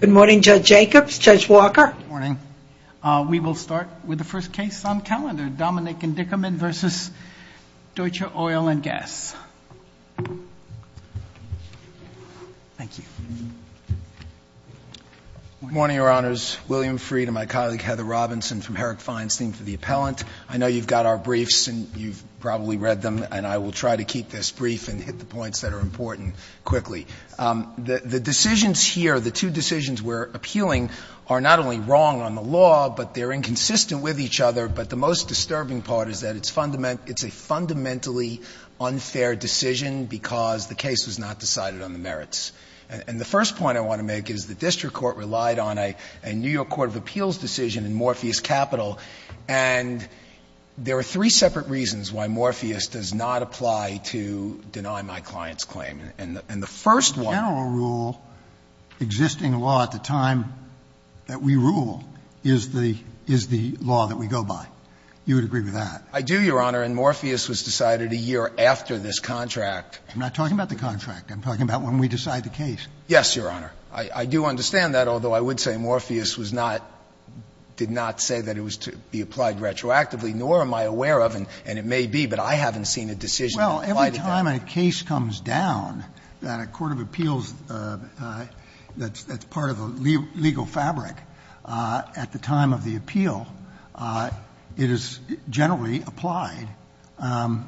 Good morning, Judge Jacobs, Judge Walker. Good morning. We will start with the first case on calendar, Dominick & Dickerman v. Deutscher Oil & Gas. Thank you. Good morning, Your Honors. William Fried and my colleague Heather Robinson from Herrick Feinstein for the appellant. I know you've got our briefs and you've probably read them, and I will try to keep this brief and hit the points that are important quickly. The decisions here, the two decisions we're appealing are not only wrong on the law, but they're inconsistent with each other, but the most disturbing part is that it's a fundamentally unfair decision because the case was not decided on the merits. And the first point I want to make is the district court relied on a New York court of appeals decision in Morpheus Capital, and there are three separate reasons why Morpheus does not apply to deny my client's claim. And the first one — The general rule, existing law at the time that we rule is the law that we go by. You would agree with that? I do, Your Honor, and Morpheus was decided a year after this contract. I'm not talking about the contract. I'm talking about when we decide the case. Yes, Your Honor. I do understand that, although I would say Morpheus was not — did not say that it was to be applied retroactively, nor am I aware of, and it may be, but I haven't seen a decision to apply to deny it. Well, every time a case comes down that a court of appeals that's part of the legal fabric at the time of the appeal, it is generally applied as,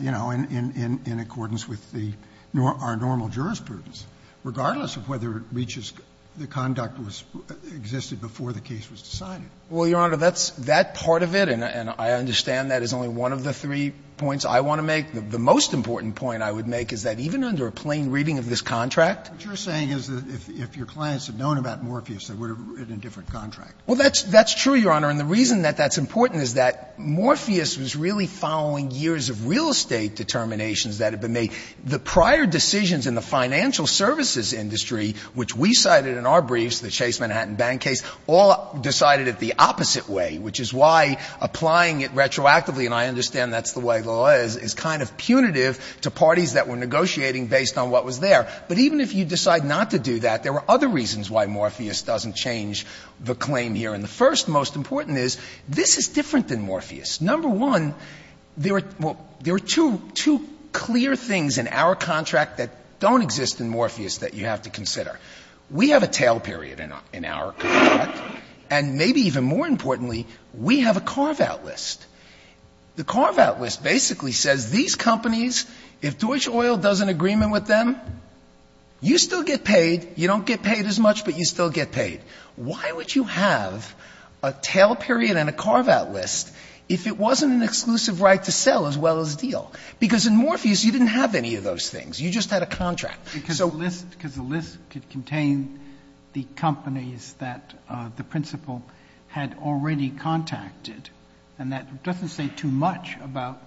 you know, in accordance with the — our normal jurisprudence, regardless of whether it reaches the conduct that existed before the case was decided. Well, Your Honor, that's — that part of it, and I understand that is only one of the three points I want to make. The most important point I would make is that even under a plain reading of this contract— What you're saying is that if your clients had known about Morpheus, they would have written a different contract. Well, that's — that's true, Your Honor. And the reason that that's important is that Morpheus was really following years of real estate determinations that had been made. The prior decisions in the financial services industry, which we cited in our briefs, the Chase Manhattan Bank case, all decided it the opposite way, which is why applying it retroactively — and I understand that's the way the law is — is kind of punitive to parties that were negotiating based on what was there. But even if you decide not to do that, there are other reasons why Morpheus doesn't change the claim here. And the first, most important, is this is different than Morpheus. Number one, there are — well, there are two — two clear things in our contract that don't exist in Morpheus that you have to consider. We have a tail period in our contract, and maybe even more importantly, we have a carve-out list. The carve-out list basically says these companies, if Deutsche Oil does an agreement with them, you still get paid. You don't get paid as much, but you still get paid. Why would you have a tail period and a carve-out list if it wasn't an exclusive right to sell as well as deal? Because in Morpheus, you didn't have any of those things. You just had a contract. So — SOTOMAYOR Because the list — because the list could contain the companies that the principal had already contacted, and that doesn't say too much about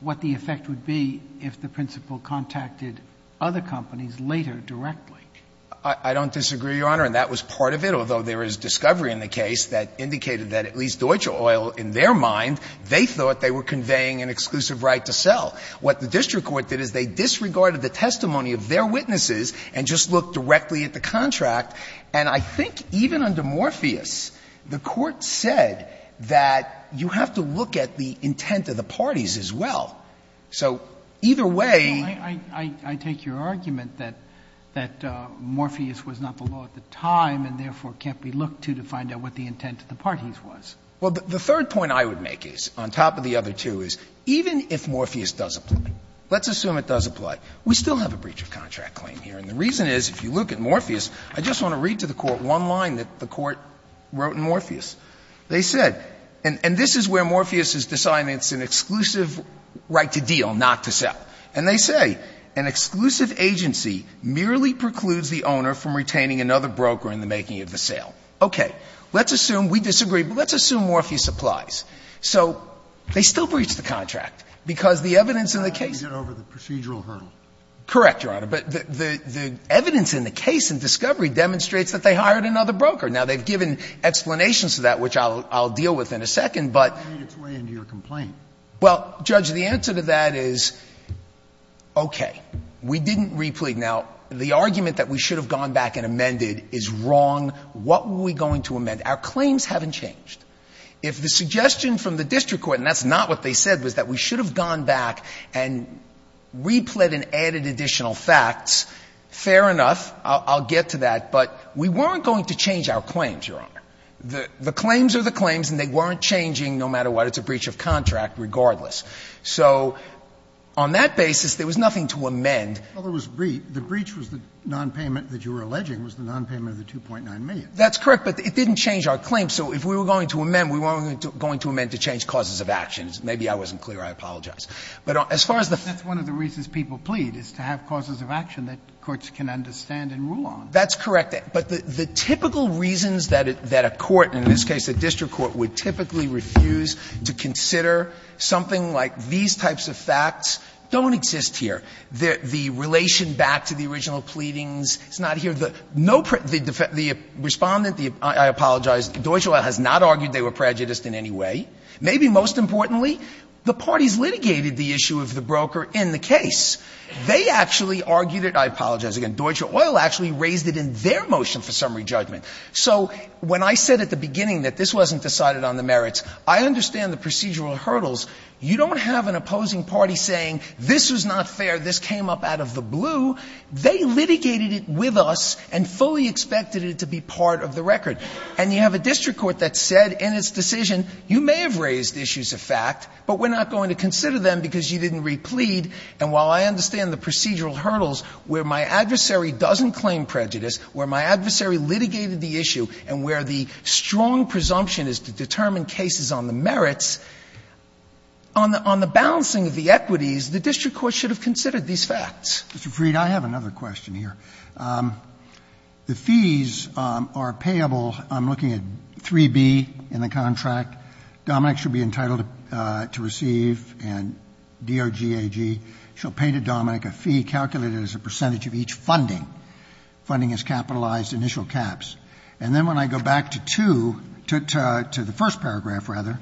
what the effect would be if the principal contacted other companies later directly. SOTOMAYOR I don't disagree, Your Honor. And that was part of it, although there is discovery in the case that indicated that at least Deutsche Oil, in their mind, they thought they were conveying an exclusive right to sell. What the district court did is they disregarded the testimony of their witnesses and just looked directly at the contract. And I think even under Morpheus, the Court said that you have to look at the intent of the parties as well. So either way — SOTOMAYOR No, I take your argument that Morpheus was not the law at the time and therefore can't be looked to to find out what the intent of the parties was. SOTOMAYOR Well, the third point I would make is, on top of the other two, is even if Morpheus does apply, let's assume it does apply, we still have a breach of contract claim here. And the reason is, if you look at Morpheus, I just want to read to the Court one line that the Court wrote in Morpheus. They said, and this is where Morpheus is deciding it's an exclusive right to deal, not to sell. And they say, An exclusive agency merely precludes the owner from retaining another broker in the making of the sale. Okay. Let's assume we disagree, but let's assume Morpheus applies. So they still breach the contract, because the evidence in the case — SOTOMAYOR Let me get over the procedural hurdle. SOTOMAYOR Correct, Your Honor. But the evidence in the case in Discovery demonstrates that they hired another broker. Now, they've given explanations to that, which I'll deal with in a second, but SOTOMAYOR It's way into your complaint. SOTOMAYOR Well, Judge, the answer to that is, okay, we didn't replete. Now, the argument that we should have gone back and amended is wrong. What were we going to amend? Our claims haven't changed. If the suggestion from the district court, and that's not what they said, was that we should have gone back and replete and added additional facts, fair enough, I'll get to that, but we weren't going to change our claims, Your Honor. The claims are the claims, and they weren't changing no matter what. It's a breach of contract regardless. So on that basis, there was nothing to amend. Kennedy The breach was the nonpayment that you were alleging was the nonpayment of the $2.9 million. SOTOMAYOR That's correct, but it didn't change our claim. So if we were going to amend, we weren't going to amend to change causes of action. Maybe I wasn't clear. I apologize. But as far as the — Sotomayor That's one of the reasons people plead, is to have causes of action that Sotomayor That's correct. But the typical reasons that a court, in this case a district court, would typically refuse to consider something like these types of facts don't exist here. The relation back to the original pleadings is not here. The no — the Respondent, I apologize, Deutsche Oil has not argued they were prejudiced in any way. Maybe most importantly, the parties litigated the issue of the broker in the case. They actually argued it — I apologize again. Deutsche Oil actually raised it in their motion for summary judgment. So when I said at the beginning that this wasn't decided on the merits, I understand the procedural hurdles. You don't have an opposing party saying this was not fair, this came up out of the blue. They litigated it with us and fully expected it to be part of the record. And you have a district court that said in its decision, you may have raised issues of fact, but we're not going to consider them because you didn't read plead. And while I understand the procedural hurdles, where my adversary doesn't claim prejudice, where my adversary litigated the issue, and where the strong presumption is to determine cases on the merits, on the — on the balancing of the equities, the district court should have considered these facts. Roberts. Mr. Freed, I have another question here. The fees are payable. I'm looking at 3B in the contract. Dominic should be entitled to receive, and DOGAG shall pay to Dominic a fee calculated as a percentage of each funding. Funding is capitalized, initial caps. And then when I go back to 2, to the first paragraph, rather,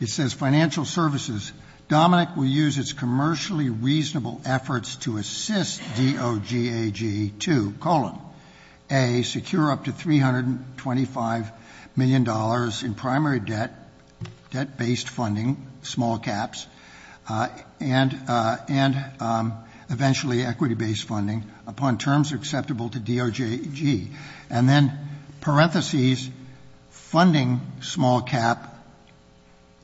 it says financial services. Dominic will use its commercially reasonable efforts to assist DOGAG to, colon, A, secure up to $325 million in primary debt, debt-based funding, small caps, and eventually equity-based funding upon terms acceptable to DOGAG. And then, parentheses, funding, small cap,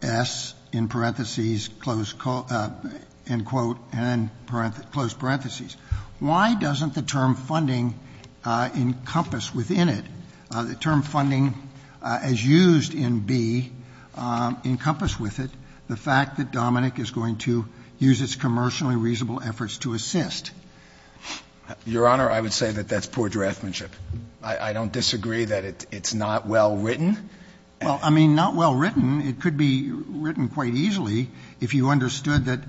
S, in parentheses, close — end quote, and close parentheses. Why doesn't the term funding encompass within it, the term funding as used in B encompass with it the fact that Dominic is going to use its commercially reasonable efforts to assist? Your Honor, I would say that that's poor draftsmanship. I don't disagree that it's not well written. Well, I mean, not well written. It could be written quite easily if you understood that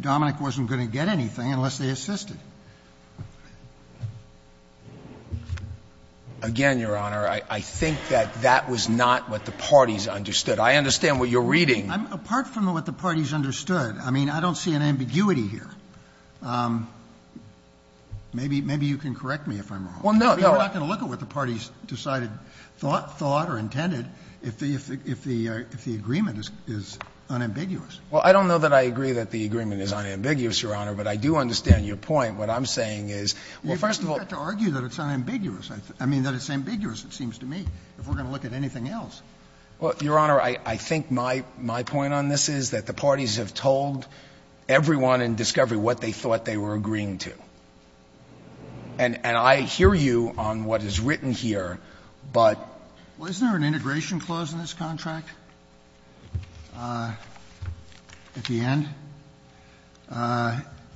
Dominic wasn't going to get anything unless they assisted. Again, Your Honor, I think that that was not what the parties understood. I understand what you're reading. Apart from what the parties understood, I mean, I don't see an ambiguity here. Maybe you can correct me if I'm wrong. Well, no, no. You're not going to look at what the parties decided, thought or intended, if the agreement is unambiguous. Well, I don't know that I agree that the agreement is unambiguous, Your Honor, but I do understand your point. What I'm saying is, well, first of all — You don't have to argue that it's unambiguous. I mean, that it's ambiguous, it seems to me, if we're going to look at anything else. Well, Your Honor, I think my point on this is that the parties have told everyone in discovery what they thought they were agreeing to. And I hear you on what is written here, but — Well, isn't there an integration clause in this contract? At the end.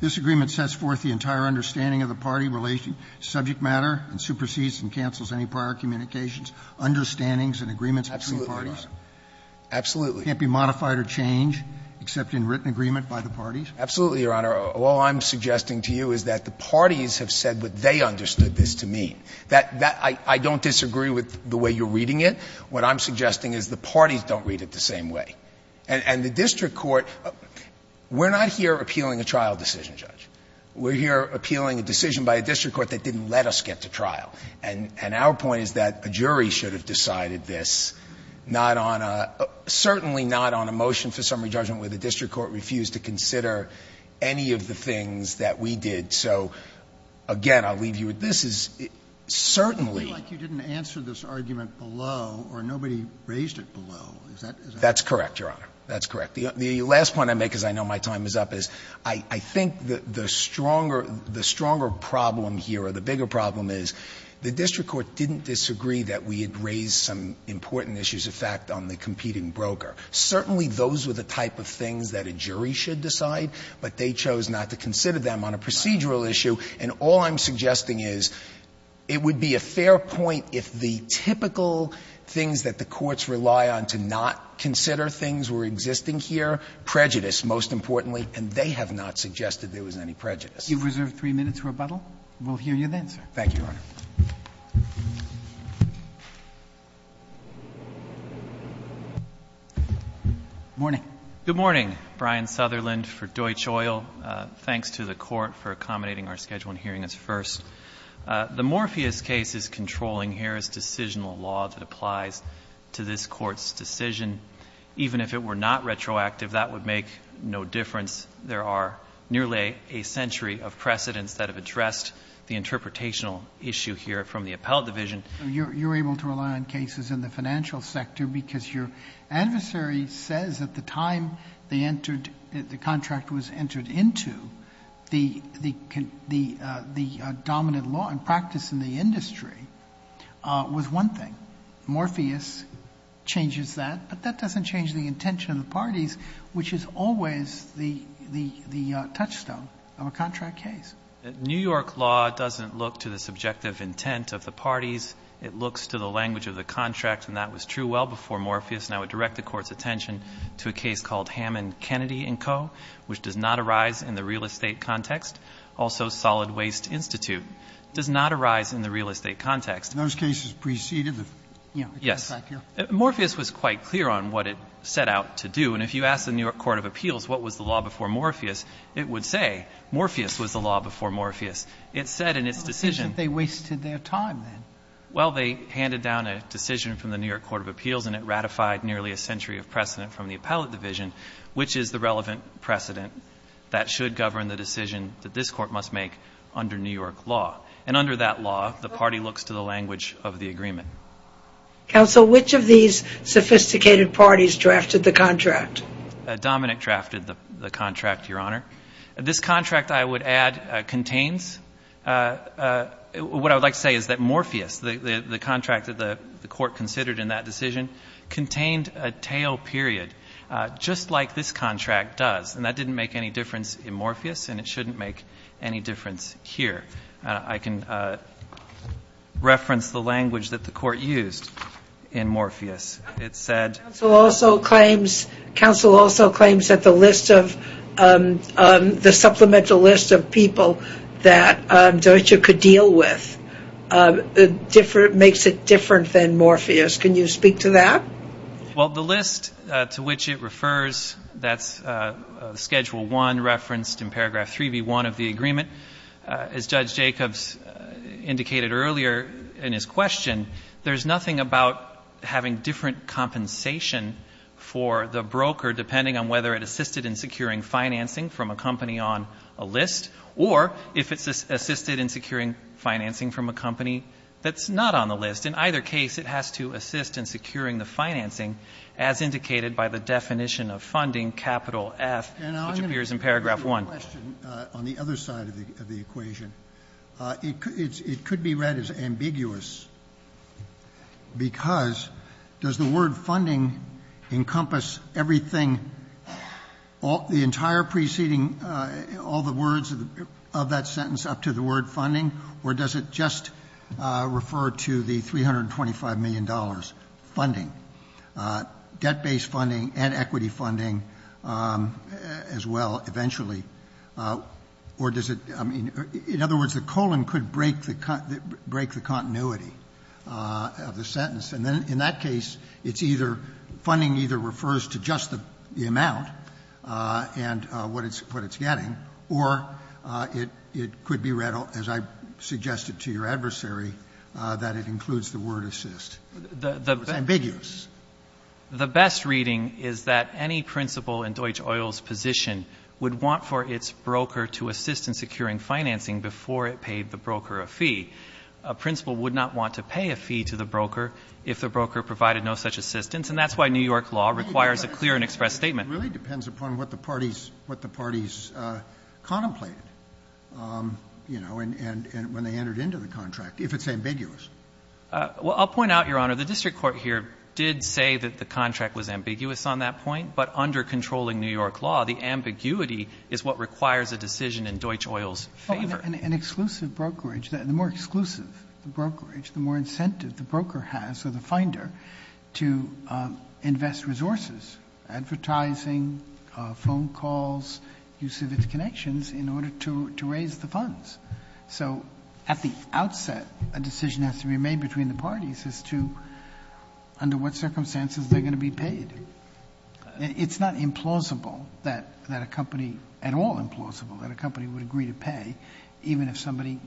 This agreement sets forth the entire understanding of the party, subject matter, and supersedes and cancels any prior communications, understandings and agreements between parties. Absolutely, Your Honor. Absolutely. It can't be modified or changed, except in written agreement by the parties. Absolutely, Your Honor. All I'm suggesting to you is that the parties have said what they understood this to mean. That — I don't disagree with the way you're reading it. What I'm suggesting is the parties don't read it the same way. And the district court — we're not here appealing a trial decision, Judge. We're here appealing a decision by a district court that didn't let us get to trial. And our point is that a jury should have decided this, not on a — certainly not on a motion for summary judgment where the district court refused to consider any of the things that we did. So, again, I'll leave you with this. It certainly — Or nobody raised it below. Is that — That's correct, Your Honor. That's correct. The last point I make, because I know my time is up, is I think the stronger — the stronger problem here, or the bigger problem, is the district court didn't disagree that we had raised some important issues, in fact, on the competing broker. Certainly those were the type of things that a jury should decide, but they chose not to consider them on a procedural issue, and all I'm suggesting is it would be a fair point if the typical things that the courts rely on to not consider things were existing here, prejudice, most importantly, and they have not suggested there was any prejudice. You've reserved three minutes for rebuttal. We'll hear you then, sir. Thank you, Your Honor. Good morning. Good morning. Brian Sutherland for Deutsch Oil. Thanks to the Court for accommodating our schedule and hearing us first. The Morpheus case is controlling here is decisional law that applies to this court's decision. Even if it were not retroactive, that would make no difference. There are nearly a century of precedents that have addressed the interpretational issue here from the appellate division. You're able to rely on cases in the financial sector because your adversary says at the time the contract was entered into, the dominant law and practice in the industry was one thing. Morpheus changes that, but that doesn't change the intention of the parties, which is always the touchstone of a contract case. New York law doesn't look to the subjective intent of the parties. It looks to the language of the contract, and that was true well before Morpheus. And I would direct the Court's attention to a case called Hammond Kennedy & Co., which does not arise in the real estate context. Also, Solid Waste Institute does not arise in the real estate context. Those cases preceded the contract here? Yes. Morpheus was quite clear on what it set out to do, and if you ask the New York Court of Appeals what was the law before Morpheus, it would say Morpheus was the law before Morpheus. It said in its decision they wasted their time. Well, they handed down a decision from the New York Court of Appeals, and it ratified nearly a century of precedent from the appellate division, which is the relevant precedent that should govern the decision that this Court must make under New York law. And under that law, the party looks to the language of the agreement. Counsel, which of these sophisticated parties drafted the contract? Dominick drafted the contract, Your Honor. This contract, I would add, contains what I would like to say is that Morpheus, the contract that the Court considered in that decision, contained a tail period, just like this contract does. And that didn't make any difference in Morpheus, and it shouldn't make any difference here. I can reference the language that the Court used in Morpheus. It said... Counsel also claims that the list of, the supplemental list of people that Deutsche could deal with makes it different than Morpheus. Can you speak to that? Well, the list to which it refers, that's Schedule I referenced in paragraph 3B1 of the agreement. As Judge Jacobs indicated earlier in his question, there's nothing about having different compensation for the broker, depending on whether it assisted in securing financing from a company on a list, or if it's assisted in securing financing from a company that's not on the list. In either case, it has to assist in securing the financing, as indicated by the definition of funding, capital F, which appears in paragraph 1. And I'm going to put a question on the other side of the equation. It could be read as ambiguous, because does the word funding encompass everything the entire preceding all the words of that sentence up to the word funding, or does it just refer to the $325 million funding, debt-based funding and equity funding as well, eventually? Or does it, I mean, in other words, the colon could break the continuity of the sentence. And then in that case, it's either funding either refers to just the amount and what it's getting, or it could be read, as I suggested to your adversary, that it includes the word assist. It's ambiguous. The best reading is that any principal in Deutsche Oil's position would want for its broker to assist in securing financing before it paid the broker a fee. A principal would not want to pay a fee to the broker if the broker provided no such assistance, and that's why New York law requires a clear and expressed Sotomayor, it really depends upon what the parties contemplated, you know, and when they entered into the contract, if it's ambiguous. Well, I'll point out, Your Honor, the district court here did say that the contract was ambiguous on that point, but under controlling New York law, the ambiguity is what requires a decision in Deutsche Oil's favor. An exclusive brokerage, the more exclusive the brokerage, the more incentive the broker has, or the finder, to invest resources, advertising, phone calls, use of its connections in order to raise the funds. So at the outset, a decision has to be made between the parties as to under what circumstances they're going to be paid. It's not implausible that a company, at all implausible, that a company would agree to pay even if somebody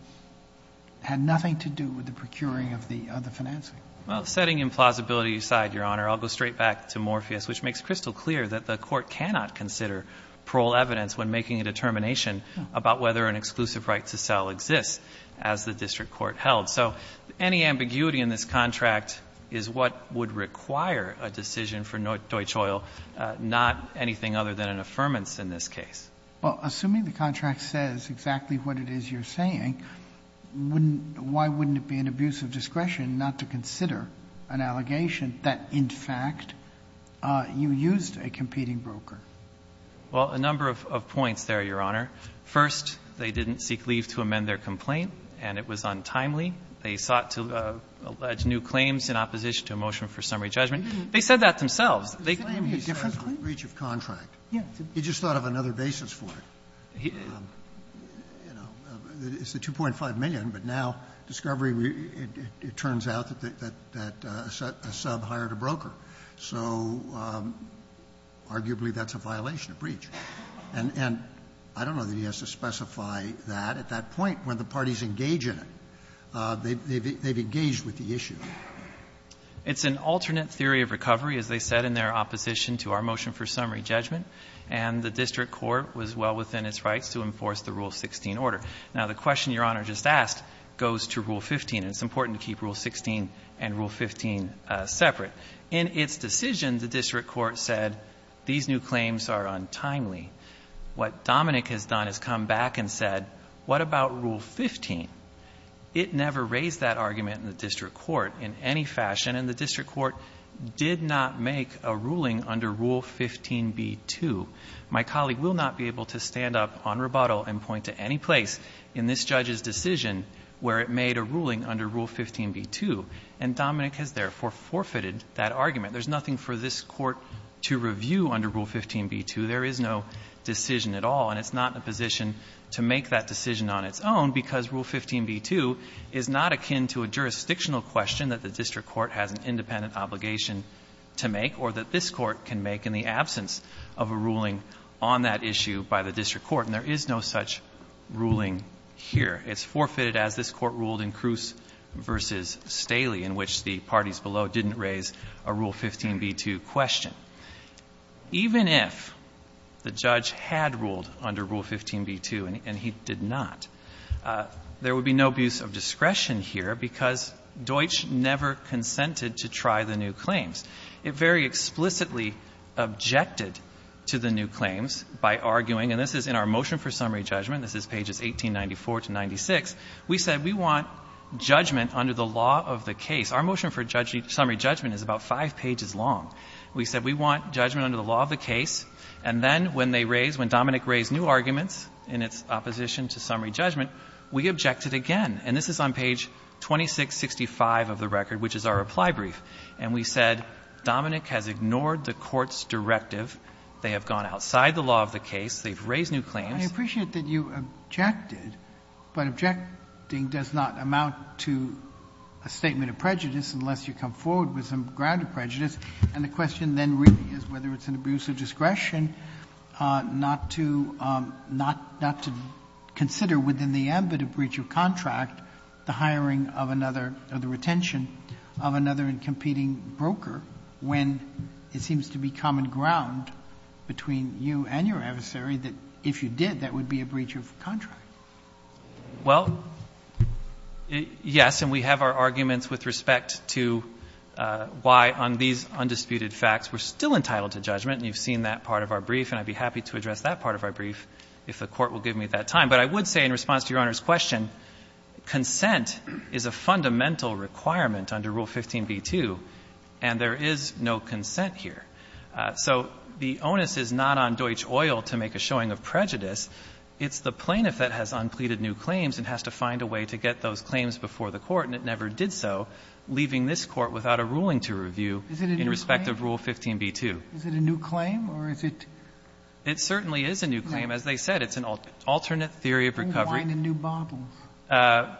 had nothing to do with the procuring of the financing. Well, setting implausibility aside, Your Honor, I'll go straight back to Morpheus, which makes crystal clear that the court cannot consider parole evidence when making a determination about whether an exclusive right to sell exists as the district court held. So any ambiguity in this contract is what would require a decision for Deutsche Oil, not anything other than an affirmance in this case. Well, assuming the contract says exactly what it is you're saying, why wouldn't it be an abuse of discretion not to consider an allegation that, in fact, you used a competing broker? Well, a number of points there, Your Honor. First, they didn't seek leave to amend their complaint, and it was untimely. They sought to allege new claims in opposition to a motion for summary judgment. They said that themselves. They could have made a different claim. So it's a breach of contract. He just thought of another basis for it. It's the $2.5 million. But now, Discovery, it turns out that a sub hired a broker. So arguably, that's a violation of breach. And I don't know that he has to specify that at that point when the parties engage in it. They've engaged with the issue. It's an alternate theory of recovery, as they said in their opposition to our motion for summary judgment. And the district court was well within its rights to enforce the Rule 16 order. Now, the question Your Honor just asked goes to Rule 15. It's important to keep Rule 16 and Rule 15 separate. In its decision, the district court said these new claims are untimely. What Dominick has done is come back and said, what about Rule 15? It never raised that argument in the district court in any fashion, and the district court did not make a ruling under Rule 15b-2. My colleague will not be able to stand up on rebuttal and point to any place in this judge's decision where it made a ruling under Rule 15b-2. And Dominick has, therefore, forfeited that argument. There's nothing for this court to review under Rule 15b-2. There is no decision at all. And it's not in a position to make that decision on its own, because Rule 15b-2 is not akin to a jurisdictional question that the district court has an independent obligation to make or that this court can make in the absence of a ruling on that issue by the district court. And there is no such ruling here. It's forfeited as this Court ruled in Kroos v. Staley, in which the parties below didn't raise a Rule 15b-2 question. Even if the judge had ruled under Rule 15b-2, and he did not, there would be no abuse of discretion here, because Deutsch never consented to try the new claims. It very explicitly objected to the new claims by arguing, and this is in our motion for summary judgment, this is pages 1894 to 96. We said we want judgment under the law of the case. Our motion for summary judgment is about five pages long. We said we want judgment under the law of the case. And then when they raised, when Dominick raised new arguments in its opposition to summary judgment, we objected again. And this is on page 2665 of the record, which is our reply brief. And we said Dominick has ignored the court's directive. They have gone outside the law of the case. They've raised new claims. Sotomayor, I appreciate that you objected, but objecting does not amount to a statement of prejudice unless you come forward with some ground of prejudice. And the question then really is whether it's an abuse of discretion not to not to consider within the ambit of breach of contract the hiring of another or the retention of another competing broker when it seems to be common ground between you and your adversary that if you did, that would be a breach of contract. Well, yes, and we have our arguments with respect to why on these undisputed facts we're still entitled to judgment, and you've seen that part of our brief. And I'd be happy to address that part of our brief if the Court will give me that time. But I would say in response to Your Honor's question, consent is a fundamental requirement under Rule 15b-2, and there is no consent here. So the onus is not on Deutsch Oil to make a showing of prejudice. It's the plaintiff that has unpleaded new claims and has to find a way to get those claims before the Court, and it never did so, leaving this Court without a ruling to review in respect of Rule 15b-2. Is it a new claim, or is it — It certainly is a new claim. As they said, it's an alternate theory of recovery. Bring wine and new bottles.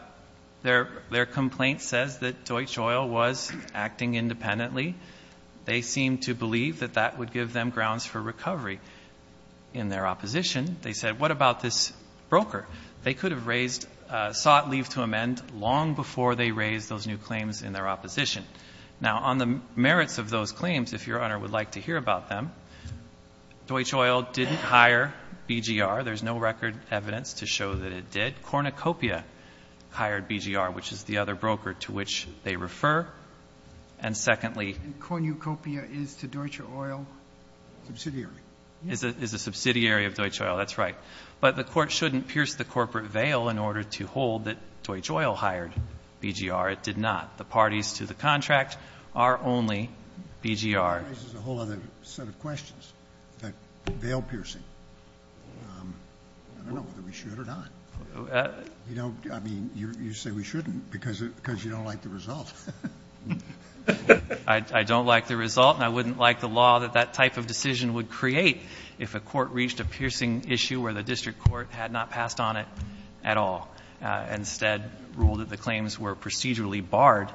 Their complaint says that Deutsch Oil was acting independently. They seem to believe that that would give them grounds for recovery. In their opposition, they said, what about this broker? They could have raised — sought leave to amend long before they raised those new claims in their opposition. Now, on the merits of those claims, if Your Honor would like to hear about them, Deutsch Oil didn't hire BGR. There's no record evidence to show that it did. Cornucopia hired BGR, which is the other broker to which they refer. And secondly — And Cornucopia is to Deutsch Oil subsidiary. Is a subsidiary of Deutsch Oil. That's right. But the Court shouldn't pierce the corporate veil in order to hold that Deutsch Oil hired BGR. It did not. The parties to the contract are only BGR. That raises a whole other set of questions. That veil piercing. I don't know whether we should or not. You don't — I mean, you say we shouldn't because you don't like the result. I don't like the result, and I wouldn't like the law that that type of decision would create if a court reached a piercing issue where the district court had not passed on it at all, and instead ruled that the claims were procedurally barred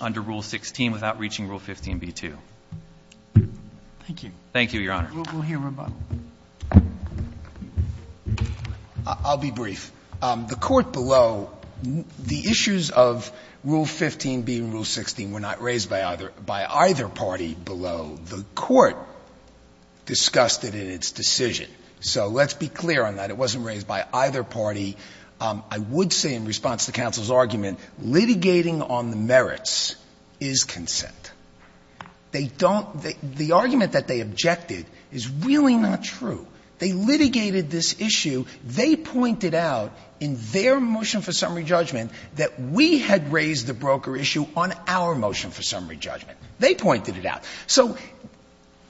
under Rule 16 without reaching Rule 15b-2. Thank you. Thank you, Your Honor. We'll hear rebuttal. I'll be brief. The Court below — the issues of Rule 15b and Rule 16 were not raised by either party below. The Court discussed it in its decision. So let's be clear on that. It wasn't raised by either party. I would say in response to counsel's argument, litigating on the merits is consent. They don't — the argument that they objected is really not true. They litigated this issue. They pointed out in their motion for summary judgment that we had raised the broker issue on our motion for summary judgment. They pointed it out. So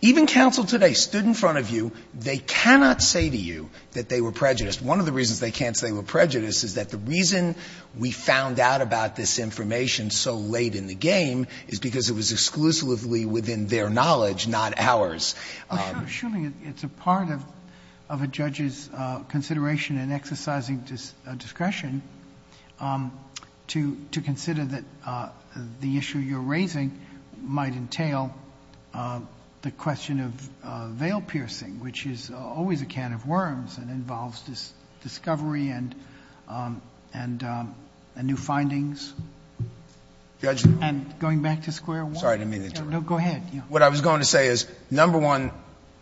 even counsel today stood in front of you. They cannot say to you that they were prejudiced. One of the reasons they can't say they were prejudiced is that the reason we found out about this information so late in the game is because it was exclusively within their knowledge, not ours. Well, surely it's a part of a judge's consideration and exercising discretion to consider that the issue you're raising might entail the question of veil piercing, which is always a can of worms and involves discovery and new findings. And going back to square one. I'm sorry. I didn't mean to interrupt. No, go ahead. What I was going to say is, number one,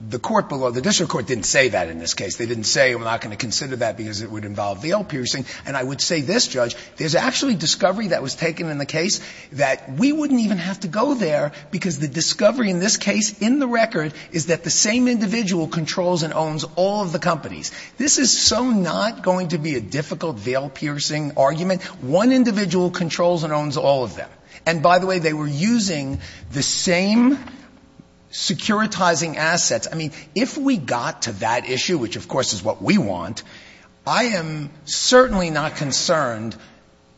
the court below, the district court didn't say that in this case. They didn't say we're not going to consider that because it would involve veil piercing. And I would say this, Judge, there's actually discovery that was taken in the case that we wouldn't even have to go there because the discovery in this case in the record is that the same individual controls and owns all of the companies. This is so not going to be a difficult veil piercing argument. One individual controls and owns all of them. And by the way, they were using the same securitizing assets. I mean, if we got to that issue, which of course is what we want, I am certainly not concerned.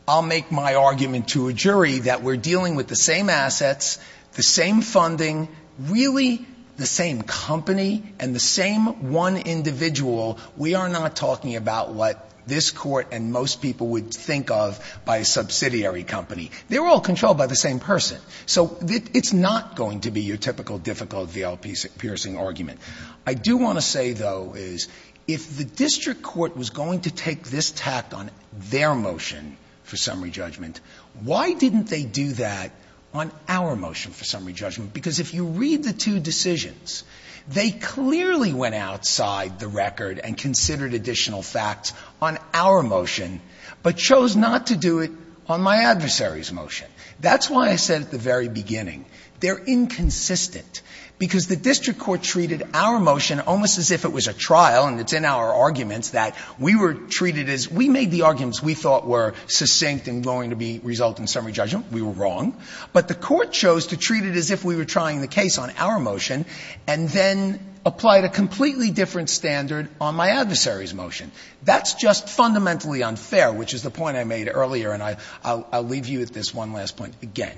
I'll make my argument to a jury that we're dealing with the same assets, the same funding, really the same company, and the same one individual. We are not talking about what this court and most people would think of by a subsidiary company. They're all controlled by the same person. So it's not going to be your typical difficult veil piercing argument. I do want to say, though, is if the district court was going to take this tact on their motion for summary judgment, why didn't they do that on our motion for summary judgment? Because if you read the two decisions, they clearly went outside the record and considered additional facts on our motion, but chose not to do it on my adversary's motion. That's why I said at the very beginning, they're inconsistent, because the district court treated our motion almost as if it was a trial, and it's in our arguments that we were treated as we made the arguments we thought were succinct and going to result in summary judgment. We were wrong. But the court chose to treat it as if we were trying the case on our motion, and then applied a completely different standard on my adversary's motion. That's just fundamentally unfair, which is the point I made earlier, and I'll leave you with this one last point again.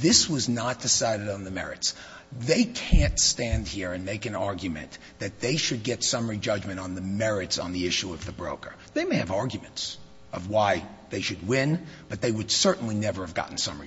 This was not decided on the merits. They can't stand here and make an argument that they should get summary judgment on the merits on the issue of the broker. They may have arguments of why they should win, but they would certainly never have gotten summary judgment.